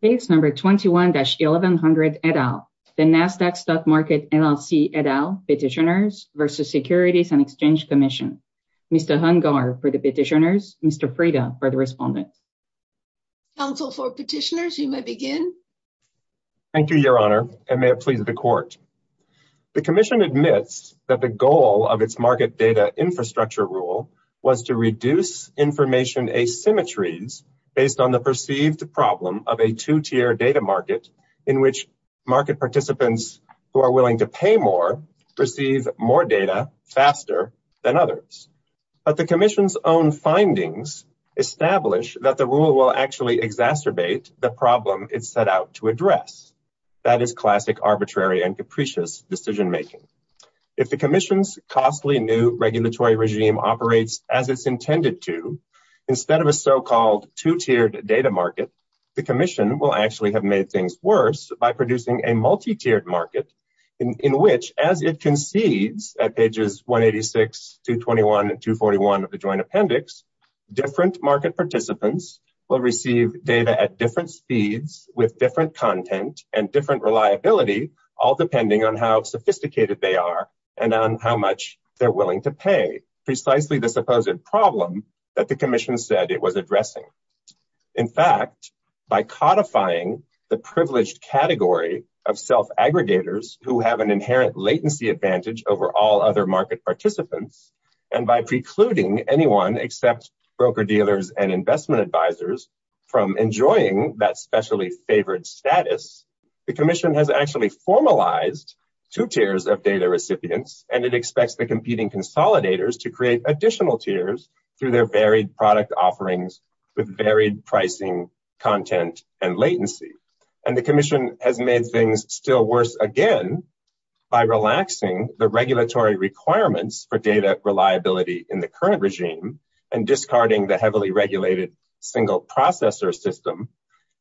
Case number 21-1100 et al. The Nasdaq Stock Market LLC et al. Petitioners v. Securities and Exchange Commission. Mr. Hungar for the petitioners. Mr. Freda for the respondents. Counsel for petitioners, you may begin. Thank you, Your Honor, and may it please the Court. The Commission admits that the goal of its market data infrastructure rule was to reduce information asymmetries based on the perceived problem of a two-tier data market in which market participants who are willing to pay more receive more data faster than others. But the Commission's own findings establish that the rule will actually exacerbate the problem it set out to address. That is classic arbitrary and capricious decision-making. If the Commission's costly new regulatory regime operates as it's intended to, instead of a so-called two-tiered data market, the Commission will actually have made things worse by producing a multi-tiered market in which, as it concedes at pages 186, 221, and 241 of the Joint Appendix, different market participants will receive data at different speeds with different content and different reliability, all depending on how sophisticated they are and on how much they're willing to pay, precisely the supposed problem that the Commission said it was addressing. In fact, by codifying the privileged category of self-aggregators who have an inherent latency advantage over all other market participants, and by precluding anyone except broker-dealers and investment advisors from enjoying that specially favored status, the Commission has actually formalized two tiers of data recipients, and it expects the competing consolidators to create additional tiers through their varied product offerings with varied pricing, content, and latency. And the Commission has made things still worse again by relaxing the regulatory requirements for data reliability in the current regime and discarding the heavily regulated single-processor system.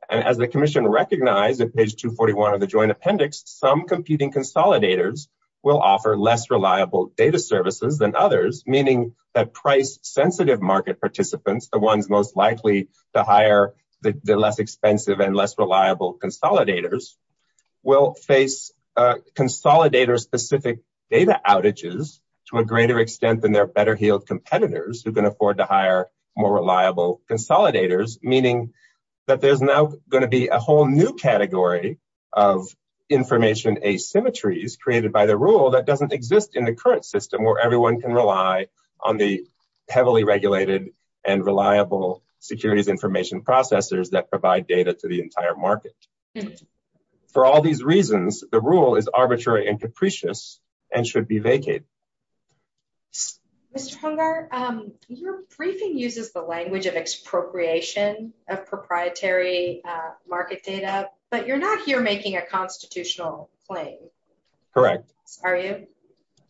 As the Commission recognized at page 241 of the Joint Appendix, some competing consolidators will offer less reliable data services than others, meaning that price-sensitive market participants, the ones most likely to hire the less expensive and less reliable consolidators, will face consolidator-specific data outages to a greater extent than their better-heeled competitors who can afford to hire more reliable consolidators, meaning that there's now going to be a whole new category of information asymmetries created by the rule that doesn't exist in the current system where everyone can rely on the heavily regulated and reliable securities information processors that provide data to the entire market. For all these reasons, the rule is arbitrary and capricious and should be vacated. Mr. Hungar, your briefing uses the language of expropriation of proprietary market data, but you're not here making a constitutional claim. Correct. Are you?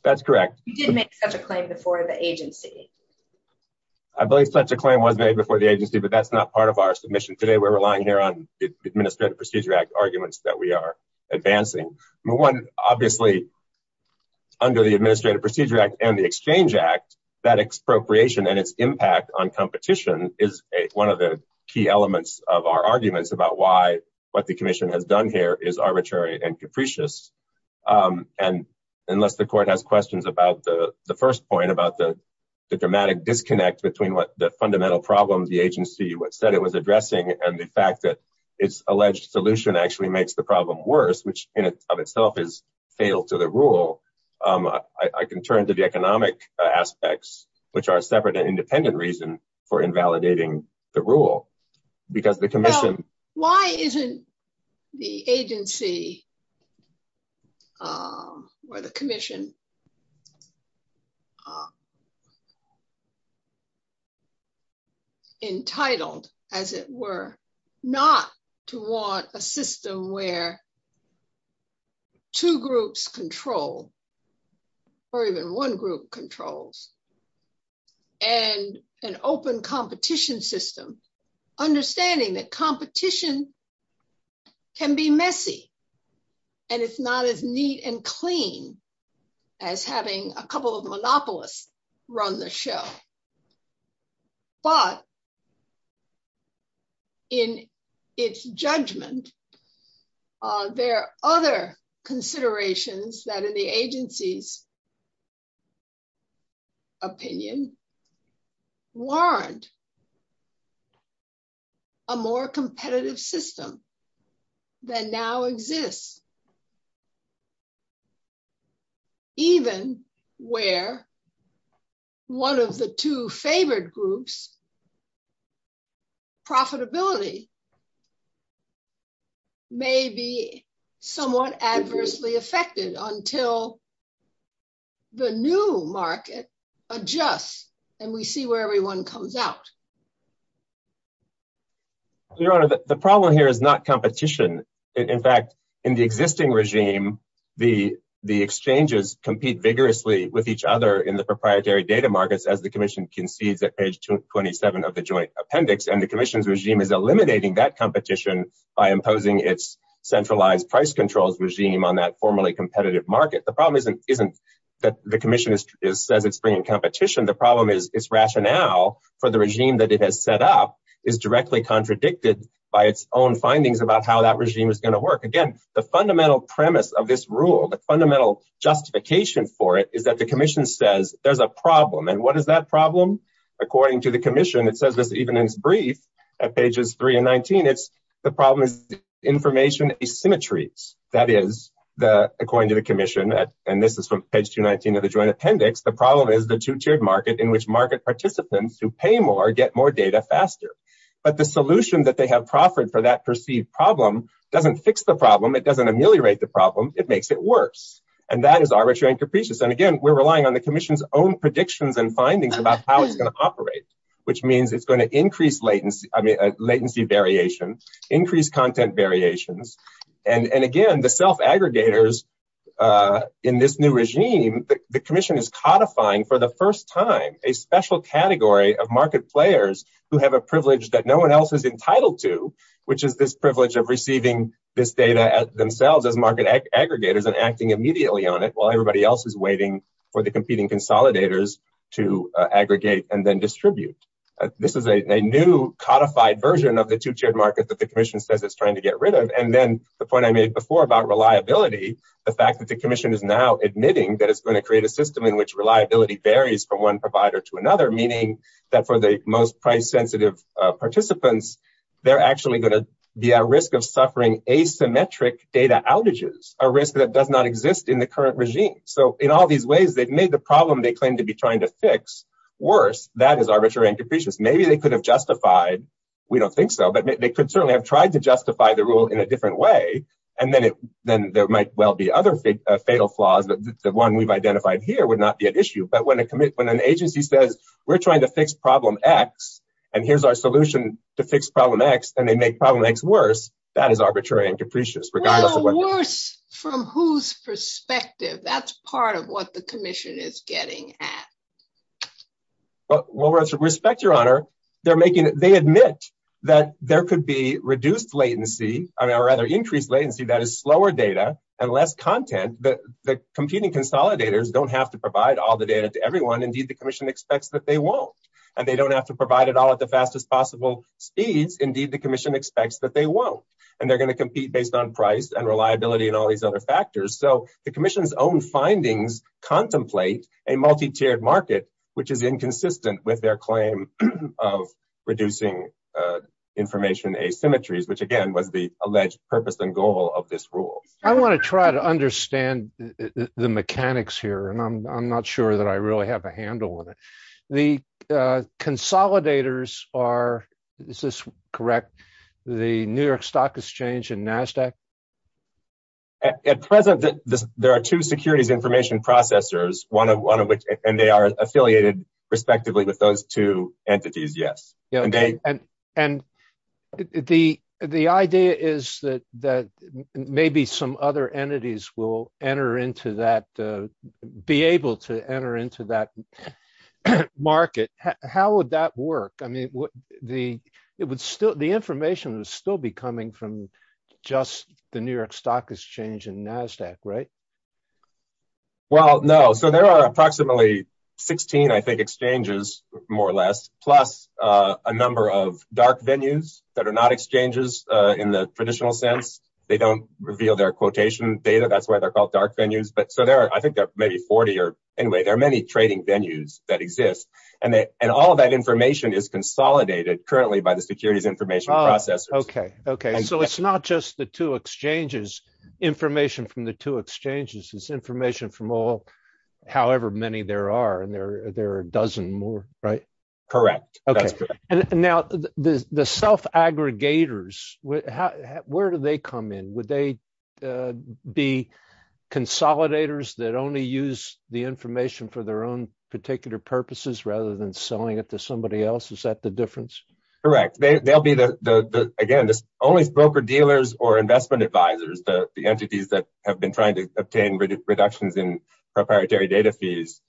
That's correct. You didn't make such a claim before the agency. I believe such a claim was made before the agency, but that's not part of our submission today. We're relying here on the Administrative Procedure Act arguments that we are advancing. One, obviously, under the Administrative Procedure Act and the Exchange Act, that expropriation and its impact on competition is one of the key elements of our arguments about why what the Commission has done here is arbitrary and capricious. Unless the Court has questions about the first point, about the dramatic disconnect between what the fundamental problem the agency said it was addressing and the fact that its alleged solution actually makes the problem worse, which in and of itself is fatal to the rule, I can turn to the economic aspects, which are a separate and independent reason for invalidating the rule. Why isn't the agency, or the Commission, entitled, as it were, not to want a system where two groups control, or even one group controls, and an open competition system? Understanding that competition can be messy, and it's not as neat and clean as having a couple of monopolists run the show. But, in its judgment, there are other considerations that, in the agency's opinion, warrant a more competitive system than now exists. Even where one of the two favored groups, profitability, may be somewhat adversely affected until the new market adjusts, and we see where everyone comes out. Your Honor, the problem here is not competition. In fact, in the existing regime, the exchanges compete vigorously with each other in the proprietary data markets, as the Commission concedes at page 27 of the Joint Appendix. And the Commission's regime is eliminating that competition by imposing its centralized price controls regime on that formerly competitive market. The problem isn't that the Commission says it's bringing competition. The problem is its rationale for the regime that it has set up is directly contradicted by its own findings about how that regime is going to work. Again, the fundamental premise of this rule, the fundamental justification for it, is that the Commission says there's a problem. And what is that problem? According to the Commission, it says this even in its brief at pages 3 and 19. The problem is information asymmetries. That is, according to the Commission, and this is from page 219 of the Joint Appendix, the problem is the two-tiered market in which market participants who pay more get more data faster. But the solution that they have proffered for that perceived problem doesn't fix the problem. It doesn't ameliorate the problem. And that is arbitrary and capricious. And, again, we're relying on the Commission's own predictions and findings about how it's going to operate, which means it's going to increase latency variation, increase content variations. And, again, the self-aggregators in this new regime, the Commission is codifying for the first time a special category of market players who have a privilege that no one else is entitled to, which is this privilege of receiving this data themselves as market aggregators and acting immediately on it while everybody else is waiting for the competing consolidators to aggregate and then distribute. This is a new codified version of the two-tiered market that the Commission says it's trying to get rid of. And then the point I made before about reliability, the fact that the Commission is now admitting that it's going to create a system in which reliability varies from one provider to another, meaning that for the most price-sensitive participants, they're actually going to be at risk of suffering asymmetric data outages, a risk that does not exist in the current regime. So in all these ways, they've made the problem they claim to be trying to fix worse. That is arbitrary and capricious. Maybe they could have justified. We don't think so, but they could certainly have tried to justify the rule in a different way. And then there might well be other fatal flaws, but the one we've identified here would not be an issue. But when an agency says, we're trying to fix problem X, and here's our solution to fix problem X, and they make problem X worse, that is arbitrary and capricious. Well, worse from whose perspective? That's part of what the Commission is getting at. Well, with respect, Your Honor, they admit that there could be reduced latency, or rather increased latency, that is slower data and less content. And the competing consolidators don't have to provide all the data to everyone. Indeed, the Commission expects that they won't. And they don't have to provide it all at the fastest possible speeds. Indeed, the Commission expects that they won't. And they're going to compete based on price and reliability and all these other factors. So the Commission's own findings contemplate a multi-tiered market, which is inconsistent with their claim of reducing information asymmetries, which, again, was the alleged purpose and goal of this rule. I want to try to understand the mechanics here, and I'm not sure that I really have a handle on it. The consolidators are – is this correct? The New York Stock Exchange and NASDAQ? At present, there are two securities information processors, one of which – and they are affiliated respectively with those two entities, yes. And the idea is that maybe some other entities will enter into that – be able to enter into that market. How would that work? I mean, the information would still be coming from just the New York Stock Exchange and NASDAQ, right? Well, no. So there are approximately 16, I think, exchanges, more or less, plus a number of dark venues that are not exchanges in the traditional sense. They don't reveal their quotation data. That's why they're called dark venues. But so there are – I think there are maybe 40 or – anyway, there are many trading venues that exist. And all of that information is consolidated currently by the securities information processors. Okay. So it's not just the two exchanges, information from the two exchanges. It's information from all – however many there are, and there are a dozen more, right? Correct. Okay. Now, the self-aggregators, where do they come in? Would they be consolidators that only use the information for their own particular purposes rather than selling it to somebody else? Is that the difference? Correct. They'll be the – again, only broker-dealers or investment advisors, the entities that have been trying to obtain reductions in proprietary data fees,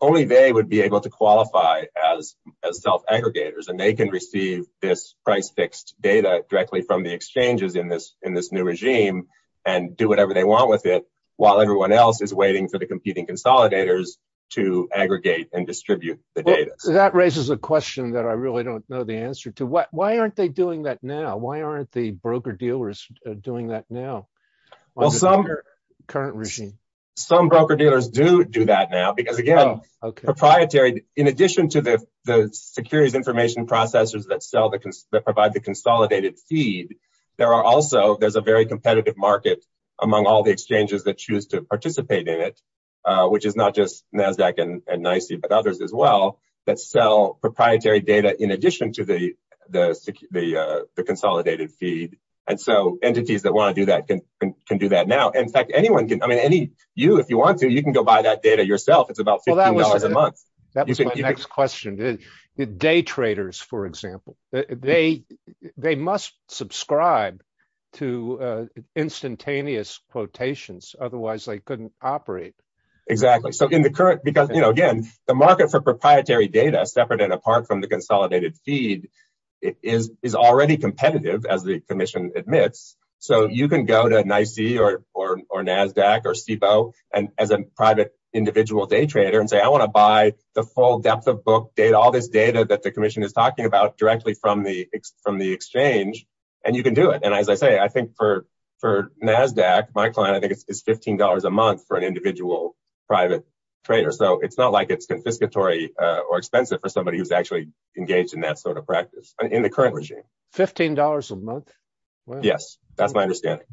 only they would be able to qualify as self-aggregators, and they can receive this price-fixed data directly from the exchanges in this new regime and do whatever they want with it while everyone else is waiting for the competing consolidators to aggregate and distribute the data. That raises a question that I really don't know the answer to. Why aren't they doing that now? Why aren't the broker-dealers doing that now on the current regime? Well, some broker-dealers do do that now because, again, proprietary – in addition to the securities information processors that sell the – that provide the consolidated feed, there are also – there's a very competitive market among all the exchanges that choose to participate in it, which is not just NASDAQ and NYSE but others as well, that sell proprietary data in addition to the consolidated feed. And so entities that want to do that can do that now. In fact, anyone can – I mean, any – you, if you want to, you can go buy that data yourself. It's about $15 a month. That was my next question. Day traders, for example, they must subscribe to instantaneous quotations. Otherwise, they couldn't operate. Exactly. So in the current – because, again, the market for proprietary data, separate and apart from the consolidated feed, is already competitive, as the commission admits. So you can go to NYSE or NASDAQ or SIPO as a private individual day trader and say, I want to buy the full depth of book data, all this data that the commission is talking about directly from the exchange, and you can do it. And as I say, I think for NASDAQ, my client, I think it's $15 a month for an individual private trader. So it's not like it's confiscatory or expensive for somebody who's actually engaged in that sort of practice in the current regime. $15 a month? Yes, that's my understanding.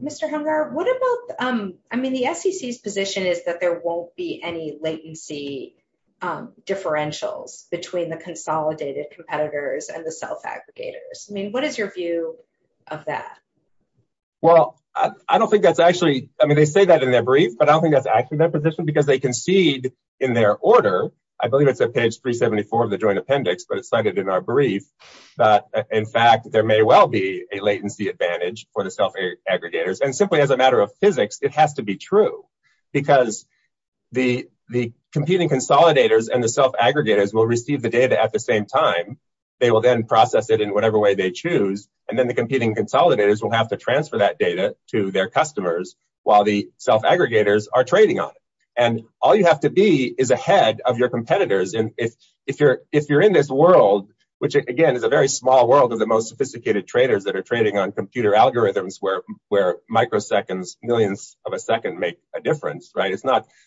Mr. Hemgar, what about – I mean, the SEC's position is that there won't be any latency differentials between the consolidated competitors and the self-aggregators. I mean, what is your view of that? Well, I don't think that's actually – I mean, they say that in their brief, but I don't think that's actually their position because they concede in their order. I believe it's at page 374 of the joint appendix, but it's cited in our brief. In fact, there may well be a latency advantage for the self-aggregators. And simply as a matter of physics, it has to be true because the competing consolidators and the self-aggregators will receive the data at the same time. They will then process it in whatever way they choose, and then the competing consolidators will have to transfer that data to their customers while the self-aggregators are trading on it. And all you have to be is ahead of your competitors. And if you're in this world, which, again, is a very small world of the most sophisticated traders that are trading on computer algorithms where microseconds, millions of a second make a difference, right?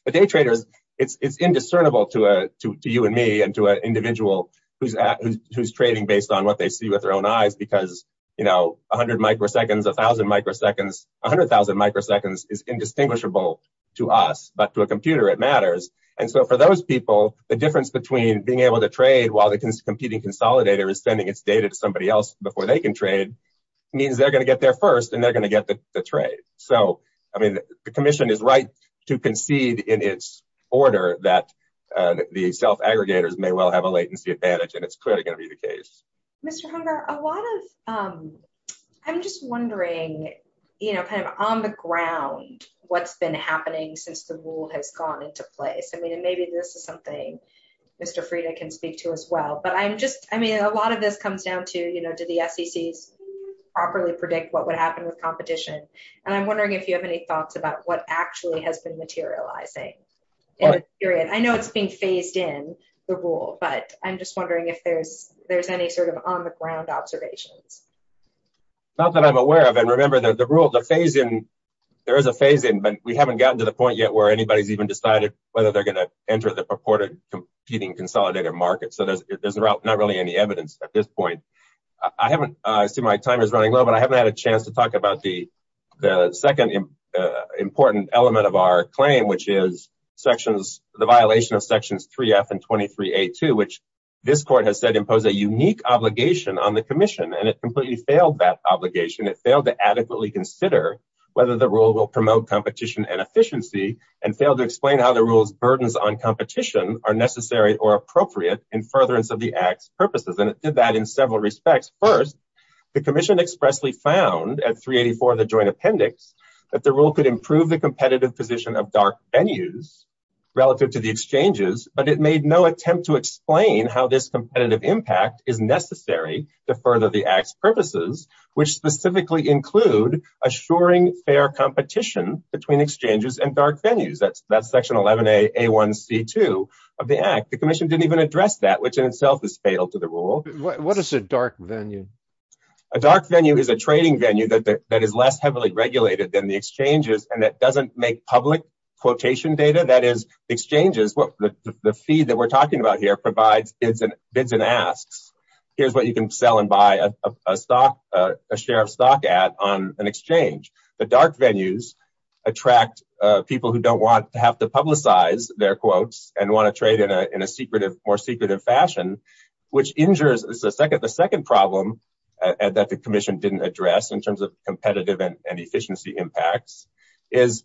It's indiscernible to you and me and to an individual who's trading based on what they see with their own eyes because 100 microseconds, 1,000 microseconds – 100,000 microseconds is indistinguishable to us, but to a computer it matters. And so for those people, the difference between being able to trade while the competing consolidator is sending its data to somebody else before they can trade means they're going to get there first and they're going to get the trade. So, I mean, the commission is right to concede in its order that the self-aggregators may well have a latency advantage, and it's clearly going to be the case. Mr. Hunger, a lot of – I'm just wondering, you know, kind of on the ground what's been happening since the rule has gone into place. I mean, and maybe this is something Mr. Frieda can speak to as well, but I'm just – I mean, a lot of this comes down to, you know, do the SECs properly predict what would happen with competition? And I'm wondering if you have any thoughts about what actually has been materializing in the period. I know it's being phased in, the rule, but I'm just wondering if there's any sort of on-the-ground observations. Not that I'm aware of. And remember, the rule – the phase-in – there is a phase-in, but we haven't gotten to the point yet where anybody's even decided whether they're going to enter the purported competing consolidator market. So there's not really any evidence at this point. I haven't – I see my time is running low, but I haven't had a chance to talk about the second important element of our claim, which is sections – the violation of sections 3F and 23A2, which this court has said impose a unique obligation on the commission. And it completely failed that obligation. It failed to adequately consider whether the rule will promote competition and efficiency, and failed to explain how the rule's burdens on competition are necessary or appropriate in furtherance of the Act's purposes. And it did that in several respects. First, the commission expressly found at 384 of the joint appendix that the rule could improve the competitive position of dark venues relative to the exchanges, but it made no attempt to explain how this competitive impact is necessary to further the Act's purposes, which specifically include assuring fair competition between exchanges and dark venues. That's section 11A1C2 of the Act. The commission didn't even address that, which in itself is fatal to the rule. What is a dark venue? A dark venue is a trading venue that is less heavily regulated than the exchanges and that doesn't make public quotation data. That is, exchanges – the fee that we're talking about here provides bids and asks. Here's what you can sell and buy a stock – a share of stock at on an exchange. The dark venues attract people who don't want to have to publicize their quotes and want to trade in a secretive – more secretive fashion, which injures – The second problem that the commission didn't address in terms of competitive and efficiency impacts is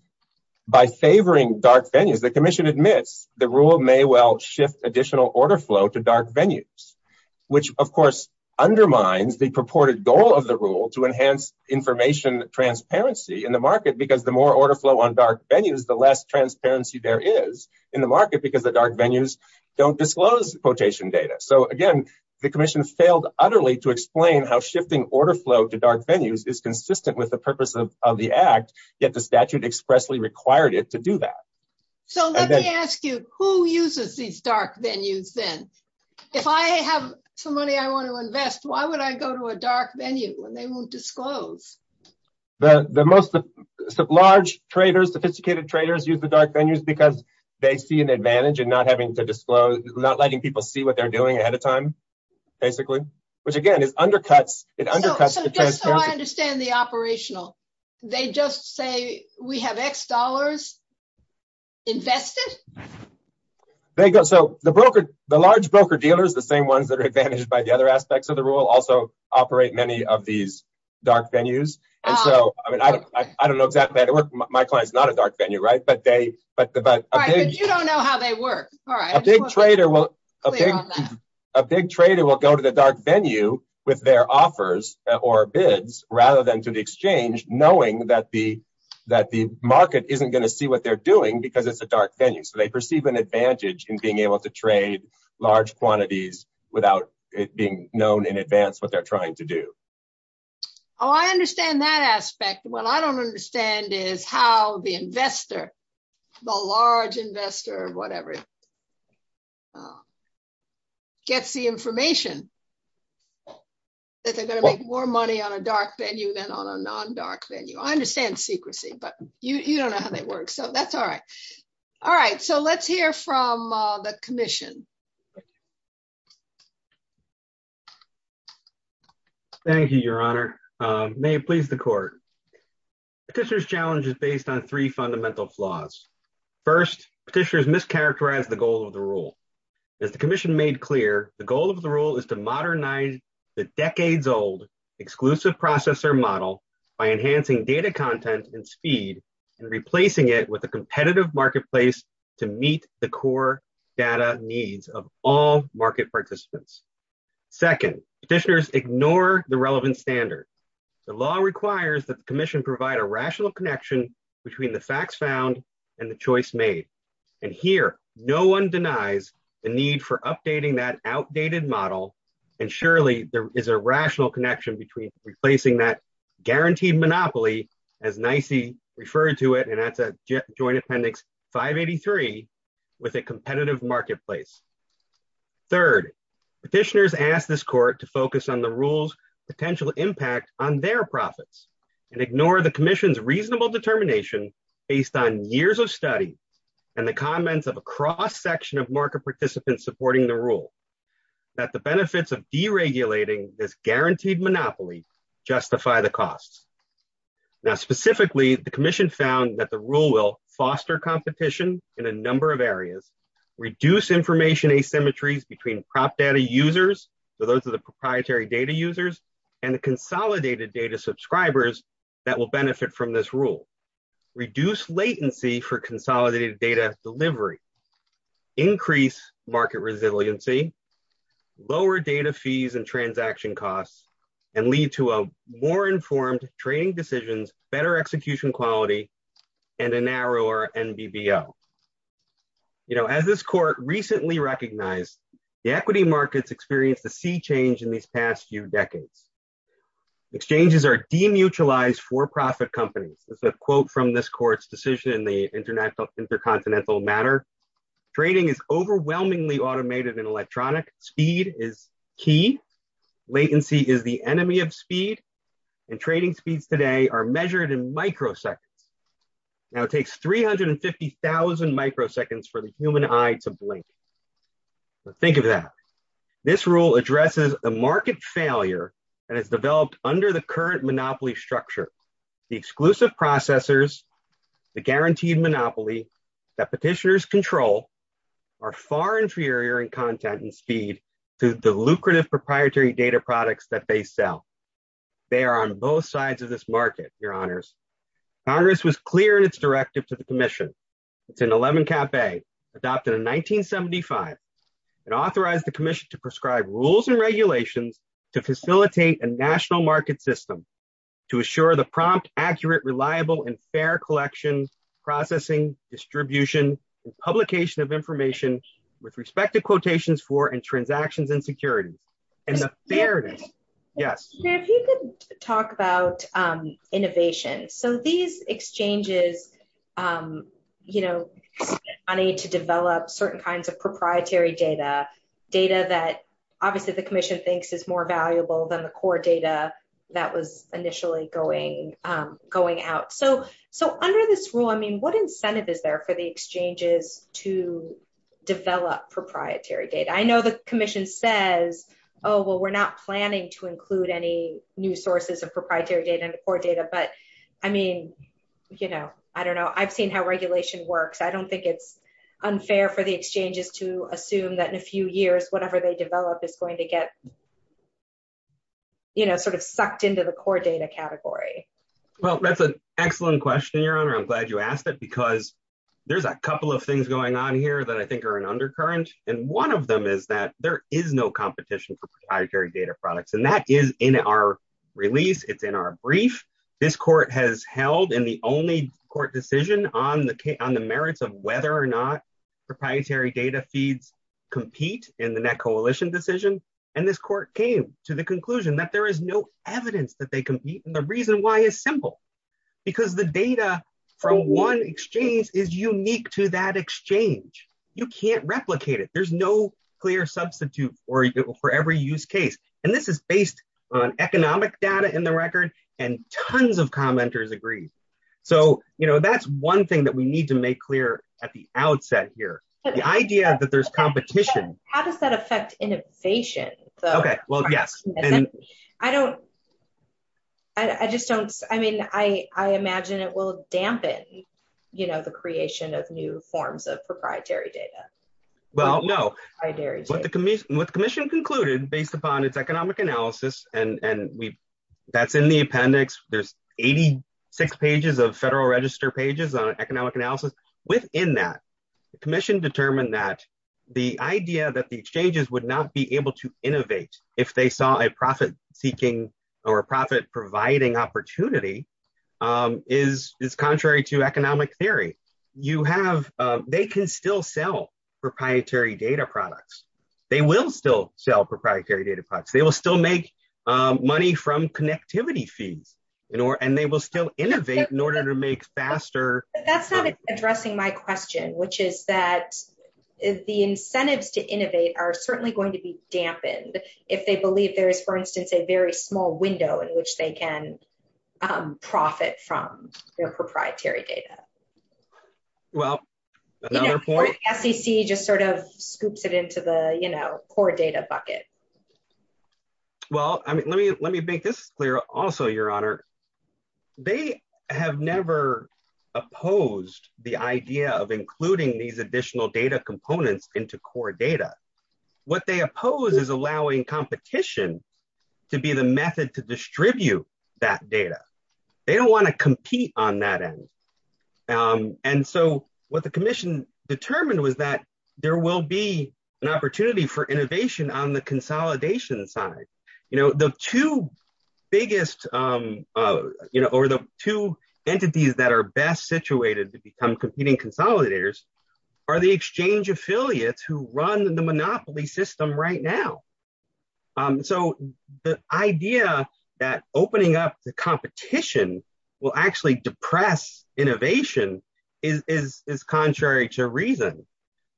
by favoring dark venues, the commission admits the rule may well shift additional order flow to dark venues, which of course undermines the purported goal of the rule to enhance information transparency in the market because the more order flow on dark venues, the less transparency there is in the market because the dark venues don't disclose quotation data. So again, the commission failed utterly to explain how shifting order flow to dark venues is consistent with the purpose of the act, yet the statute expressly required it to do that. So let me ask you, who uses these dark venues then? If I have some money I want to invest, why would I go to a dark venue when they won't disclose? The most large traders, sophisticated traders use the dark venues because they see an advantage in not having to disclose – not letting people see what they're doing ahead of time, basically. Which again, it undercuts the transparency. So just so I understand the operational, they just say we have X dollars invested? The large broker-dealers, the same ones that are advantaged by the other aspects of the rule, also operate many of these dark venues. I don't know exactly how they work. My client's not a dark venue, right? But you don't know how they work. A big trader will go to the dark venue with their offers or bids rather than to the exchange, knowing that the market isn't going to see what they're doing because it's a dark venue. So they perceive an advantage in being able to trade large quantities without it being known in advance what they're trying to do. Oh, I understand that aspect. What I don't understand is how the investor, the large investor or whatever, gets the information that they're going to make more money on a dark venue than on a non-dark venue. I understand secrecy, but you don't know how they work, so that's all right. All right, so let's hear from the Commission. Thank you, Your Honor. May it please the Court. Petitioner's challenge is based on three fundamental flaws. First, petitioners mischaracterize the goal of the rule. As the Commission made clear, the goal of the rule is to modernize the decades-old exclusive processor model by enhancing data content and speed and replacing it with a competitive marketplace to meet the core data needs of all market participants. Second, petitioners ignore the relevant standard. The law requires that the Commission provide a rational connection between the facts found and the choice made. And here, no one denies the need for updating that outdated model, and surely there is a rational connection between replacing that guaranteed monopoly, as NYSE referred to it, and that's a Joint Appendix 583, with a competitive marketplace. Third, petitioners ask this Court to focus on the rule's potential impact on their profits and ignore the Commission's reasonable determination, based on years of study and the comments of a cross-section of market participants supporting the rule, that the benefits of deregulating this guaranteed monopoly justify the costs. Now, specifically, the Commission found that the rule will foster competition in a number of areas, reduce information asymmetries between prop data users, so those are the proprietary data users, and the consolidated data subscribers that will benefit from this rule, reduce latency for consolidated data delivery, increase market resiliency, lower data fees and transaction costs, and lead to a more informed trading decisions, better execution quality, and a narrower NBVO. As this Court recently recognized, the equity markets experienced a sea change in these past few decades. Exchanges are demutualized for-profit companies. This is a quote from this Court's decision in the Intercontinental Matter. Trading is overwhelmingly automated and electronic, speed is key, latency is the enemy of speed, and trading speeds today are measured in microseconds. Now, it takes 350,000 microseconds for the human eye to blink. Think of that. This rule addresses a market failure that has developed under the current monopoly structure. The exclusive processors, the guaranteed monopoly that petitioners control, are far inferior in content and speed to the lucrative proprietary data products that they sell. They are on both sides of this market, Your Honors. Congress was clear in its directive to the Commission. It's an 11-cap-A, adopted in 1975, and authorized the Commission to prescribe rules and regulations to facilitate a national market system to assure the prompt, accurate, reliable, and fair collection, processing, distribution, and publication of information with respect to quotations for and transactions and security. If you could talk about innovation. So these exchanges, you know, need to develop certain kinds of proprietary data, data that obviously the Commission thinks is more valuable than the core data that was initially going out. So under this rule, I mean, what incentive is there for the exchanges to develop proprietary data? I know the Commission says, oh, well, we're not planning to include any new sources of proprietary data into core data, but I mean, you know, I don't know. I've seen how regulation works. I don't think it's unfair for the exchanges to assume that in a few years, whatever they develop is going to get, you know, sort of sucked into the core data category. Well, that's an excellent question, Your Honor. I'm glad you asked that because there's a couple of things going on here that I think are an undercurrent, and one of them is that there is no competition for proprietary data products, and that is in our release. It's in our brief. This court has held in the only court decision on the merits of whether or not proprietary data feeds compete in the net coalition decision. And this court came to the conclusion that there is no evidence that they compete, and the reason why is simple, because the data from one exchange is unique to that exchange. You can't replicate it. There's no clear substitute for every use case, and this is based on economic data in the record, and tons of commenters agree. So, you know, that's one thing that we need to make clear at the outset here, the idea that there's competition. How does that affect innovation? Okay, well, yes. I don't. I just don't. I mean, I imagine it will dampen, you know, the creation of new forms of proprietary data. Well, no. What the commission concluded, based upon its economic analysis, and that's in the appendix. There's 86 pages of Federal Register pages on economic analysis. Within that, the commission determined that the idea that the exchanges would not be able to innovate if they saw a profit-seeking or profit-providing opportunity is contrary to economic theory. You have. They can still sell proprietary data products. They will still sell proprietary data products. They will still make money from connectivity fees, and they will still innovate in order to make faster. That's not addressing my question, which is that the incentives to innovate are certainly going to be dampened if they believe there is, for instance, a very small window in which they can profit from their proprietary data. Well, another point. SEC just sort of scoops it into the, you know, core data bucket. Well, I mean, let me let me make this clear. Also, Your Honor, they have never opposed the idea of including these additional data components into core data. What they oppose is allowing competition to be the method to distribute that data. They don't want to compete on that end. And so what the commission determined was that there will be an opportunity for innovation on the consolidation side. You know, the two biggest, you know, or the two entities that are best situated to become competing consolidators are the exchange affiliates who run the monopoly system right now. So the idea that opening up the competition will actually depress innovation is contrary to reason.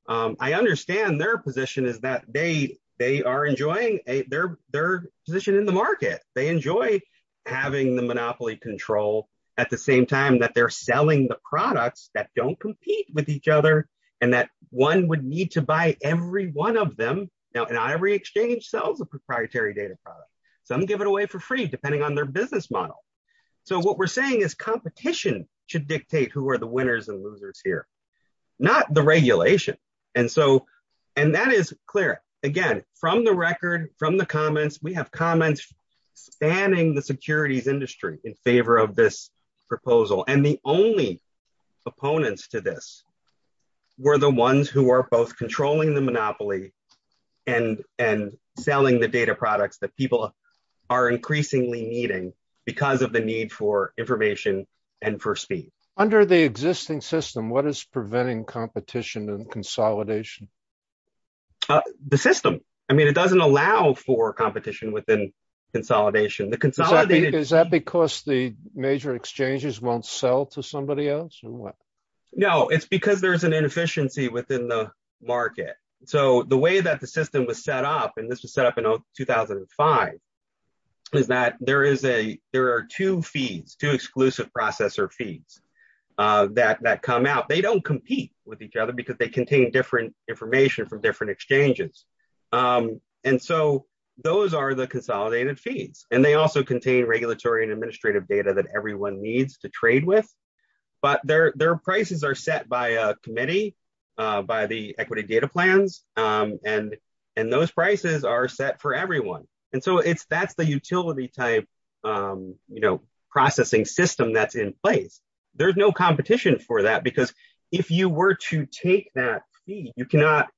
I understand their position is that they are enjoying their position in the market. They enjoy having the monopoly control at the same time that they're selling the products that don't compete with each other and that one would need to buy every one of them. Now, not every exchange sells a proprietary data product. Some give it away for free depending on their business model. So what we're saying is competition should dictate who are the winners and losers here, not the regulation. And that is clear, again, from the record, from the comments, we have comments spanning the securities industry in favor of this proposal. And the only opponents to this were the ones who are both controlling the monopoly and selling the data products that people are increasingly needing because of the need for information and for speed. Under the existing system, what is preventing competition and consolidation? The system. I mean, it doesn't allow for competition within consolidation. Is that because the major exchanges won't sell to somebody else? No, it's because there is an inefficiency within the market. So the way that the system was set up, and this was set up in 2005, is that there are two feeds, two exclusive processor feeds that come out. They don't compete with each other because they contain different information from different exchanges. And so those are the consolidated feeds. And they also contain regulatory and administrative data that everyone needs to trade with. But their prices are set by a committee, by the equity data plans, and those prices are set for everyone. And so that's the utility type processing system that's in place. There's no competition for that because if you were to take that feed, you cannot.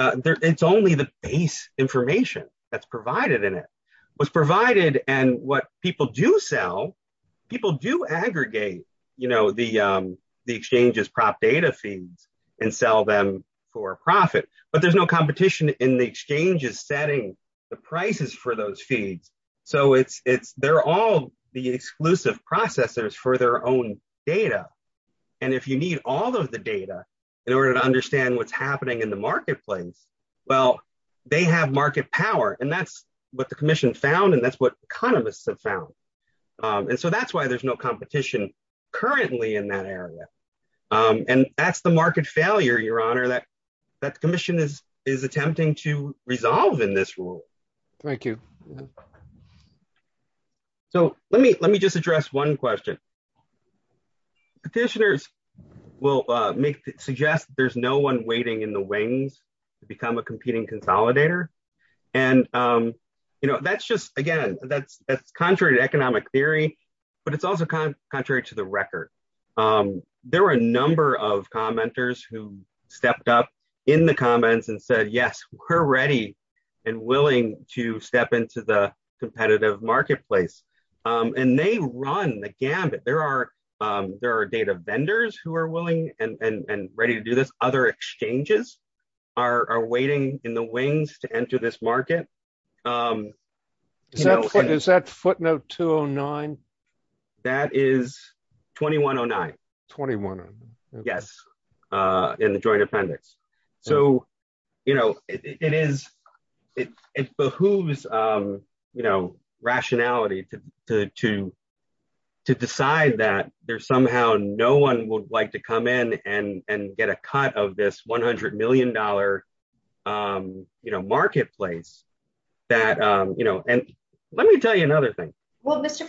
It's only the base information that's provided in it. What's provided and what people do sell, people do aggregate the exchange's prop data feeds and sell them for profit. But there's no competition in the exchange's setting the prices for those feeds. So they're all the exclusive processors for their own data. And if you need all of the data in order to understand what's happening in the marketplace, well, they have market power. And that's what the commission found. And that's what economists have found. And so that's why there's no competition currently in that area. And that's the market failure, Your Honor, that that commission is is attempting to resolve in this rule. Thank you. So let me let me just address one question. Petitioners will suggest there's no one waiting in the wings to become a competing consolidator. And, you know, that's just again, that's that's contrary to economic theory, but it's also contrary to the record. There are a number of commenters who stepped up in the comments and said, yes, we're ready and willing to step into the competitive marketplace. And they run the gambit. There are there are data vendors who are willing and ready to do this. Other exchanges are waiting in the wings to enter this market. Is that footnote 209? That is 2109. 21. Yes. In the joint appendix. So, you know, it is it behooves, you know, rationality to to to decide that there's somehow no one would like to come in and and get a cut of this one hundred million dollar, you know, marketplace that, you know. Let me tell you another thing. Well, Mr.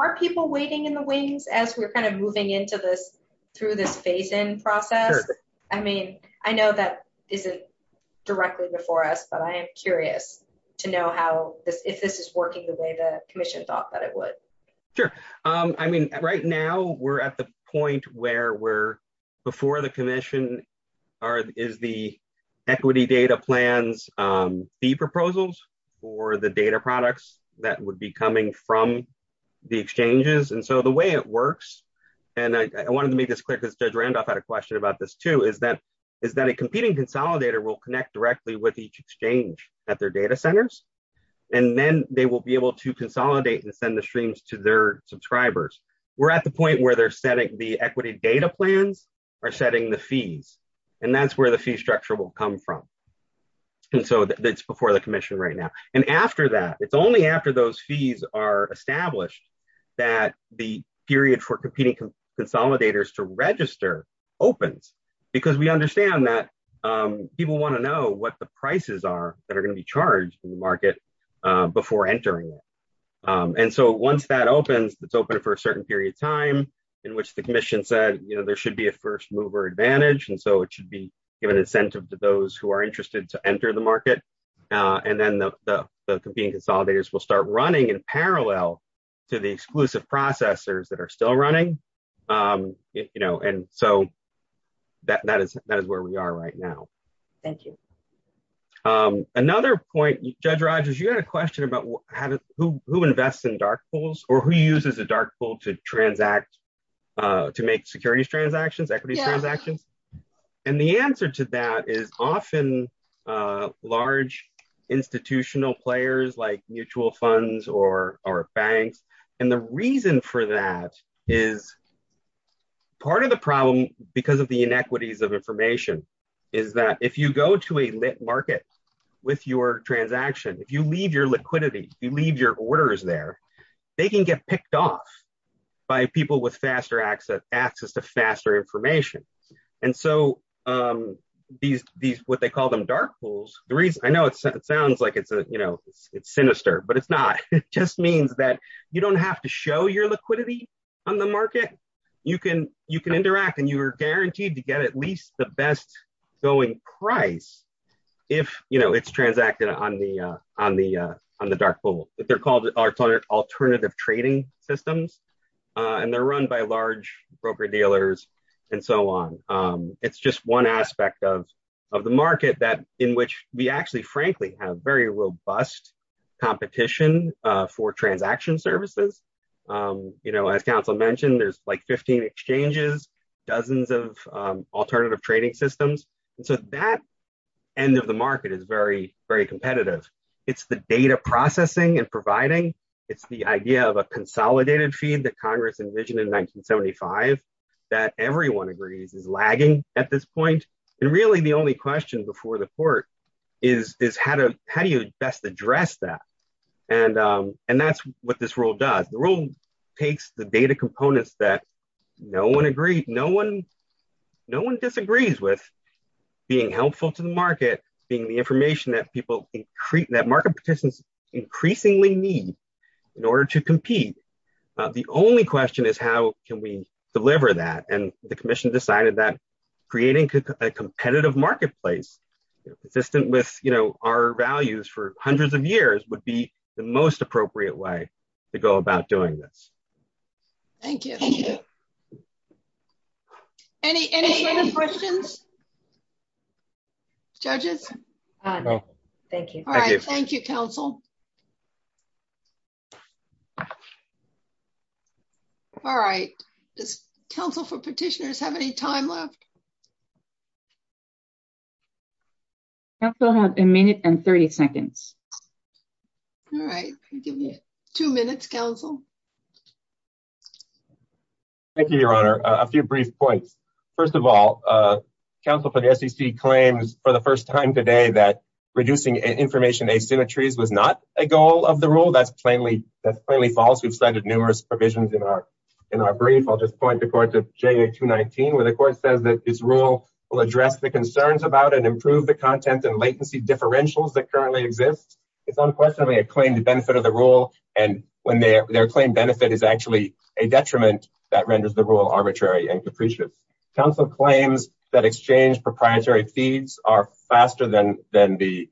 Are people waiting in the wings as we're kind of moving into this through this phase in process? I mean, I know that isn't directly before us, but I am curious to know how this if this is working the way the commission thought that it would. Sure. I mean, right now we're at the point where we're before the commission is the equity data plans, the proposals for the data products that would be coming from the exchanges. And so the way it works. And I wanted to make this quick as Judge Randolph had a question about this, too, is that is that a competing consolidator will connect directly with each exchange at their data centers. And then they will be able to consolidate and send the streams to their subscribers. We're at the point where they're setting the equity data plans are setting the fees. And that's where the fee structure will come from. And so that's before the commission right now. And after that, it's only after those fees are established that the period for competing consolidators to register opens because we understand that people want to know what the prices are that are going to be charged in the market before entering. And so once that opens, it's open for a certain period of time in which the commission said, you know, there should be a first mover advantage. And so it should be given incentive to those who are interested to enter the market. And then the competing consolidators will start running in parallel to the exclusive processors that are still running. You know, and so that that is that is where we are right now. Thank you. Another point, Judge Rogers, you had a question about who invests in dark pools or who uses a dark pool to transact to make securities transactions, equity transactions. And the answer to that is often large institutional players like mutual funds or our banks. And the reason for that is part of the problem because of the inequities of information is that if you go to a market with your transaction, if you leave your And so these these what they call them dark pools. The reason I know it sounds like it's a, you know, it's sinister, but it's not. It just means that you don't have to show your liquidity on the market. You can you can interact and you are guaranteed to get at least the best going price. If, you know, it's transacted on the on the on the dark pool that they're called alternative trading systems and they're run by large broker dealers and so on. It's just one aspect of of the market that in which we actually frankly have very robust competition for transaction services. You know, as counsel mentioned, there's like 15 exchanges dozens of alternative trading systems. And so that end of the market is very, very competitive. It's the data processing and providing. It's the idea of a consolidated feed that Congress envisioned in 1975 that everyone agrees is lagging at this point. And really the only question before the court is, is how to, how do you best address that. And, and that's what this role does the role takes the data components that no one agreed no one. No one disagrees with being helpful to the market being the information that people increase that market participants increasingly need in order to compete. The only question is how can we deliver that and the commission decided that creating a competitive marketplace, consistent with, you know, our values for hundreds of years would be the most appropriate way to go about doing this. Thank you. Any questions. Judges. Thank you. All right. Thank you, counsel. All right. This Council for petitioners have any time left. So have a minute and 30 seconds. All right, give me two minutes Council. Thank you, Your Honor, a few brief points. First of all, Council for the SEC claims for the first time today that reducing information asymmetries was not a goal of the rule that's plainly that's plainly false. We've cited numerous provisions in our, in our brief. I'll just point the court to Jay to 19 where the court says that this rule will address the concerns about and improve the content and latency differentials that currently exists. It's unquestionably a claim to benefit of the rule, and when their claim benefit is actually a detriment that renders the rule arbitrary and capricious Council claims that exchange proprietary feeds are faster than, than the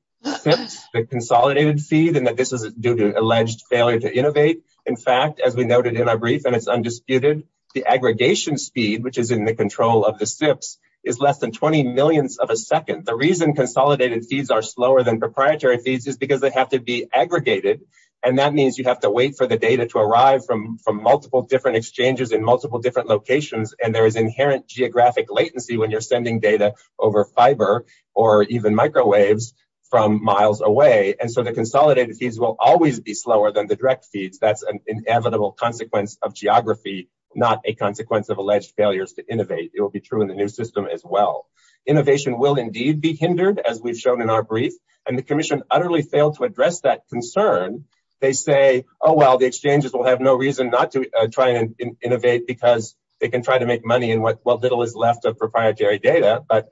consolidated feed and that this is due to alleged failure to innovate. In fact, as we noted in our brief and it's undisputed, the aggregation speed which is in the control of the steps is less than 20 millionths of a second the reason consolidated fees are slower than proprietary fees is because they have to be aggregated. And that means you have to wait for the data to arrive from from multiple different exchanges in multiple different locations and there is inherent geographic latency when you're sending data over fiber, or even microwaves from miles away and so the consolidated fees will always be slower than the direct feeds that's an inevitable consequence of geography, not a consequence of alleged failures to innovate, it will be true in the new system as well. Innovation will indeed be hindered as we've shown in our brief, and the commission utterly failed to address that concern. They say, oh well the exchanges will have no reason not to try and innovate because they can try to make money and what little is left of proprietary data, but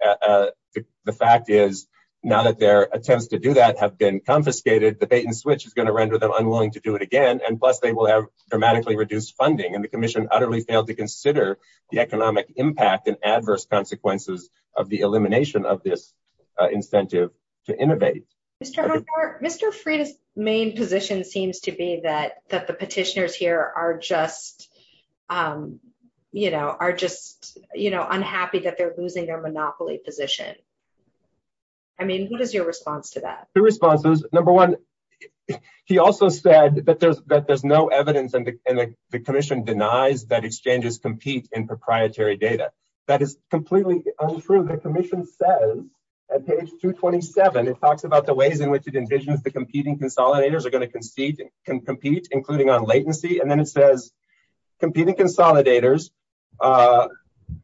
the fact is, now that their attempts to do that have been confiscated the bait and switch is going to render them unwilling to do it again and plus they will have dramatically reduced funding and the commission utterly failed to consider the economic impact and adverse consequences of the elimination of this incentive to innovate. Mr. Freitas main position seems to be that that the petitioners here are just, you know, are just, you know, unhappy that they're losing their monopoly position. I mean, what is your response to that responses. Number one. He also said that there's that there's no evidence and the commission denies that exchanges compete in proprietary data that is completely untrue the Commission says at page 227 it talks about the ways in which it envisions the competing consolidators are going to concede can compete, including on latency and then it says competing consolidators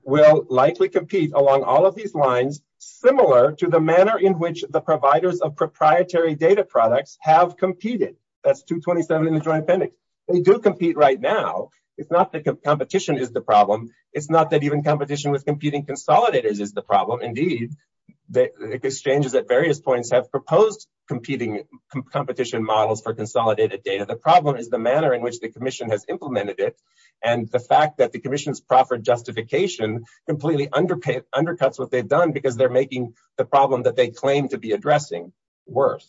will likely compete along all of these lines, similar to the manner in which the providers of proprietary data products have competed. That's 227 in the Joint Appendix. They do compete right now. It's not the competition is the problem. It's not that even competition with competing consolidators is the problem. Indeed, the exchanges at various points have proposed competing competition models for consolidated data. The problem is the manner in which the Commission has implemented it and the fact that the Commission's proffered justification completely underpaid undercuts what they've done because they're making the problem that they claim to be addressing worse.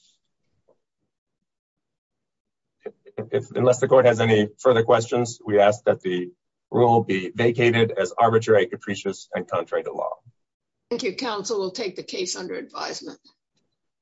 If unless the court has any further questions, we ask that the rule be vacated as arbitrary, capricious and contrary to law. Thank you. Council will take the case under advisement.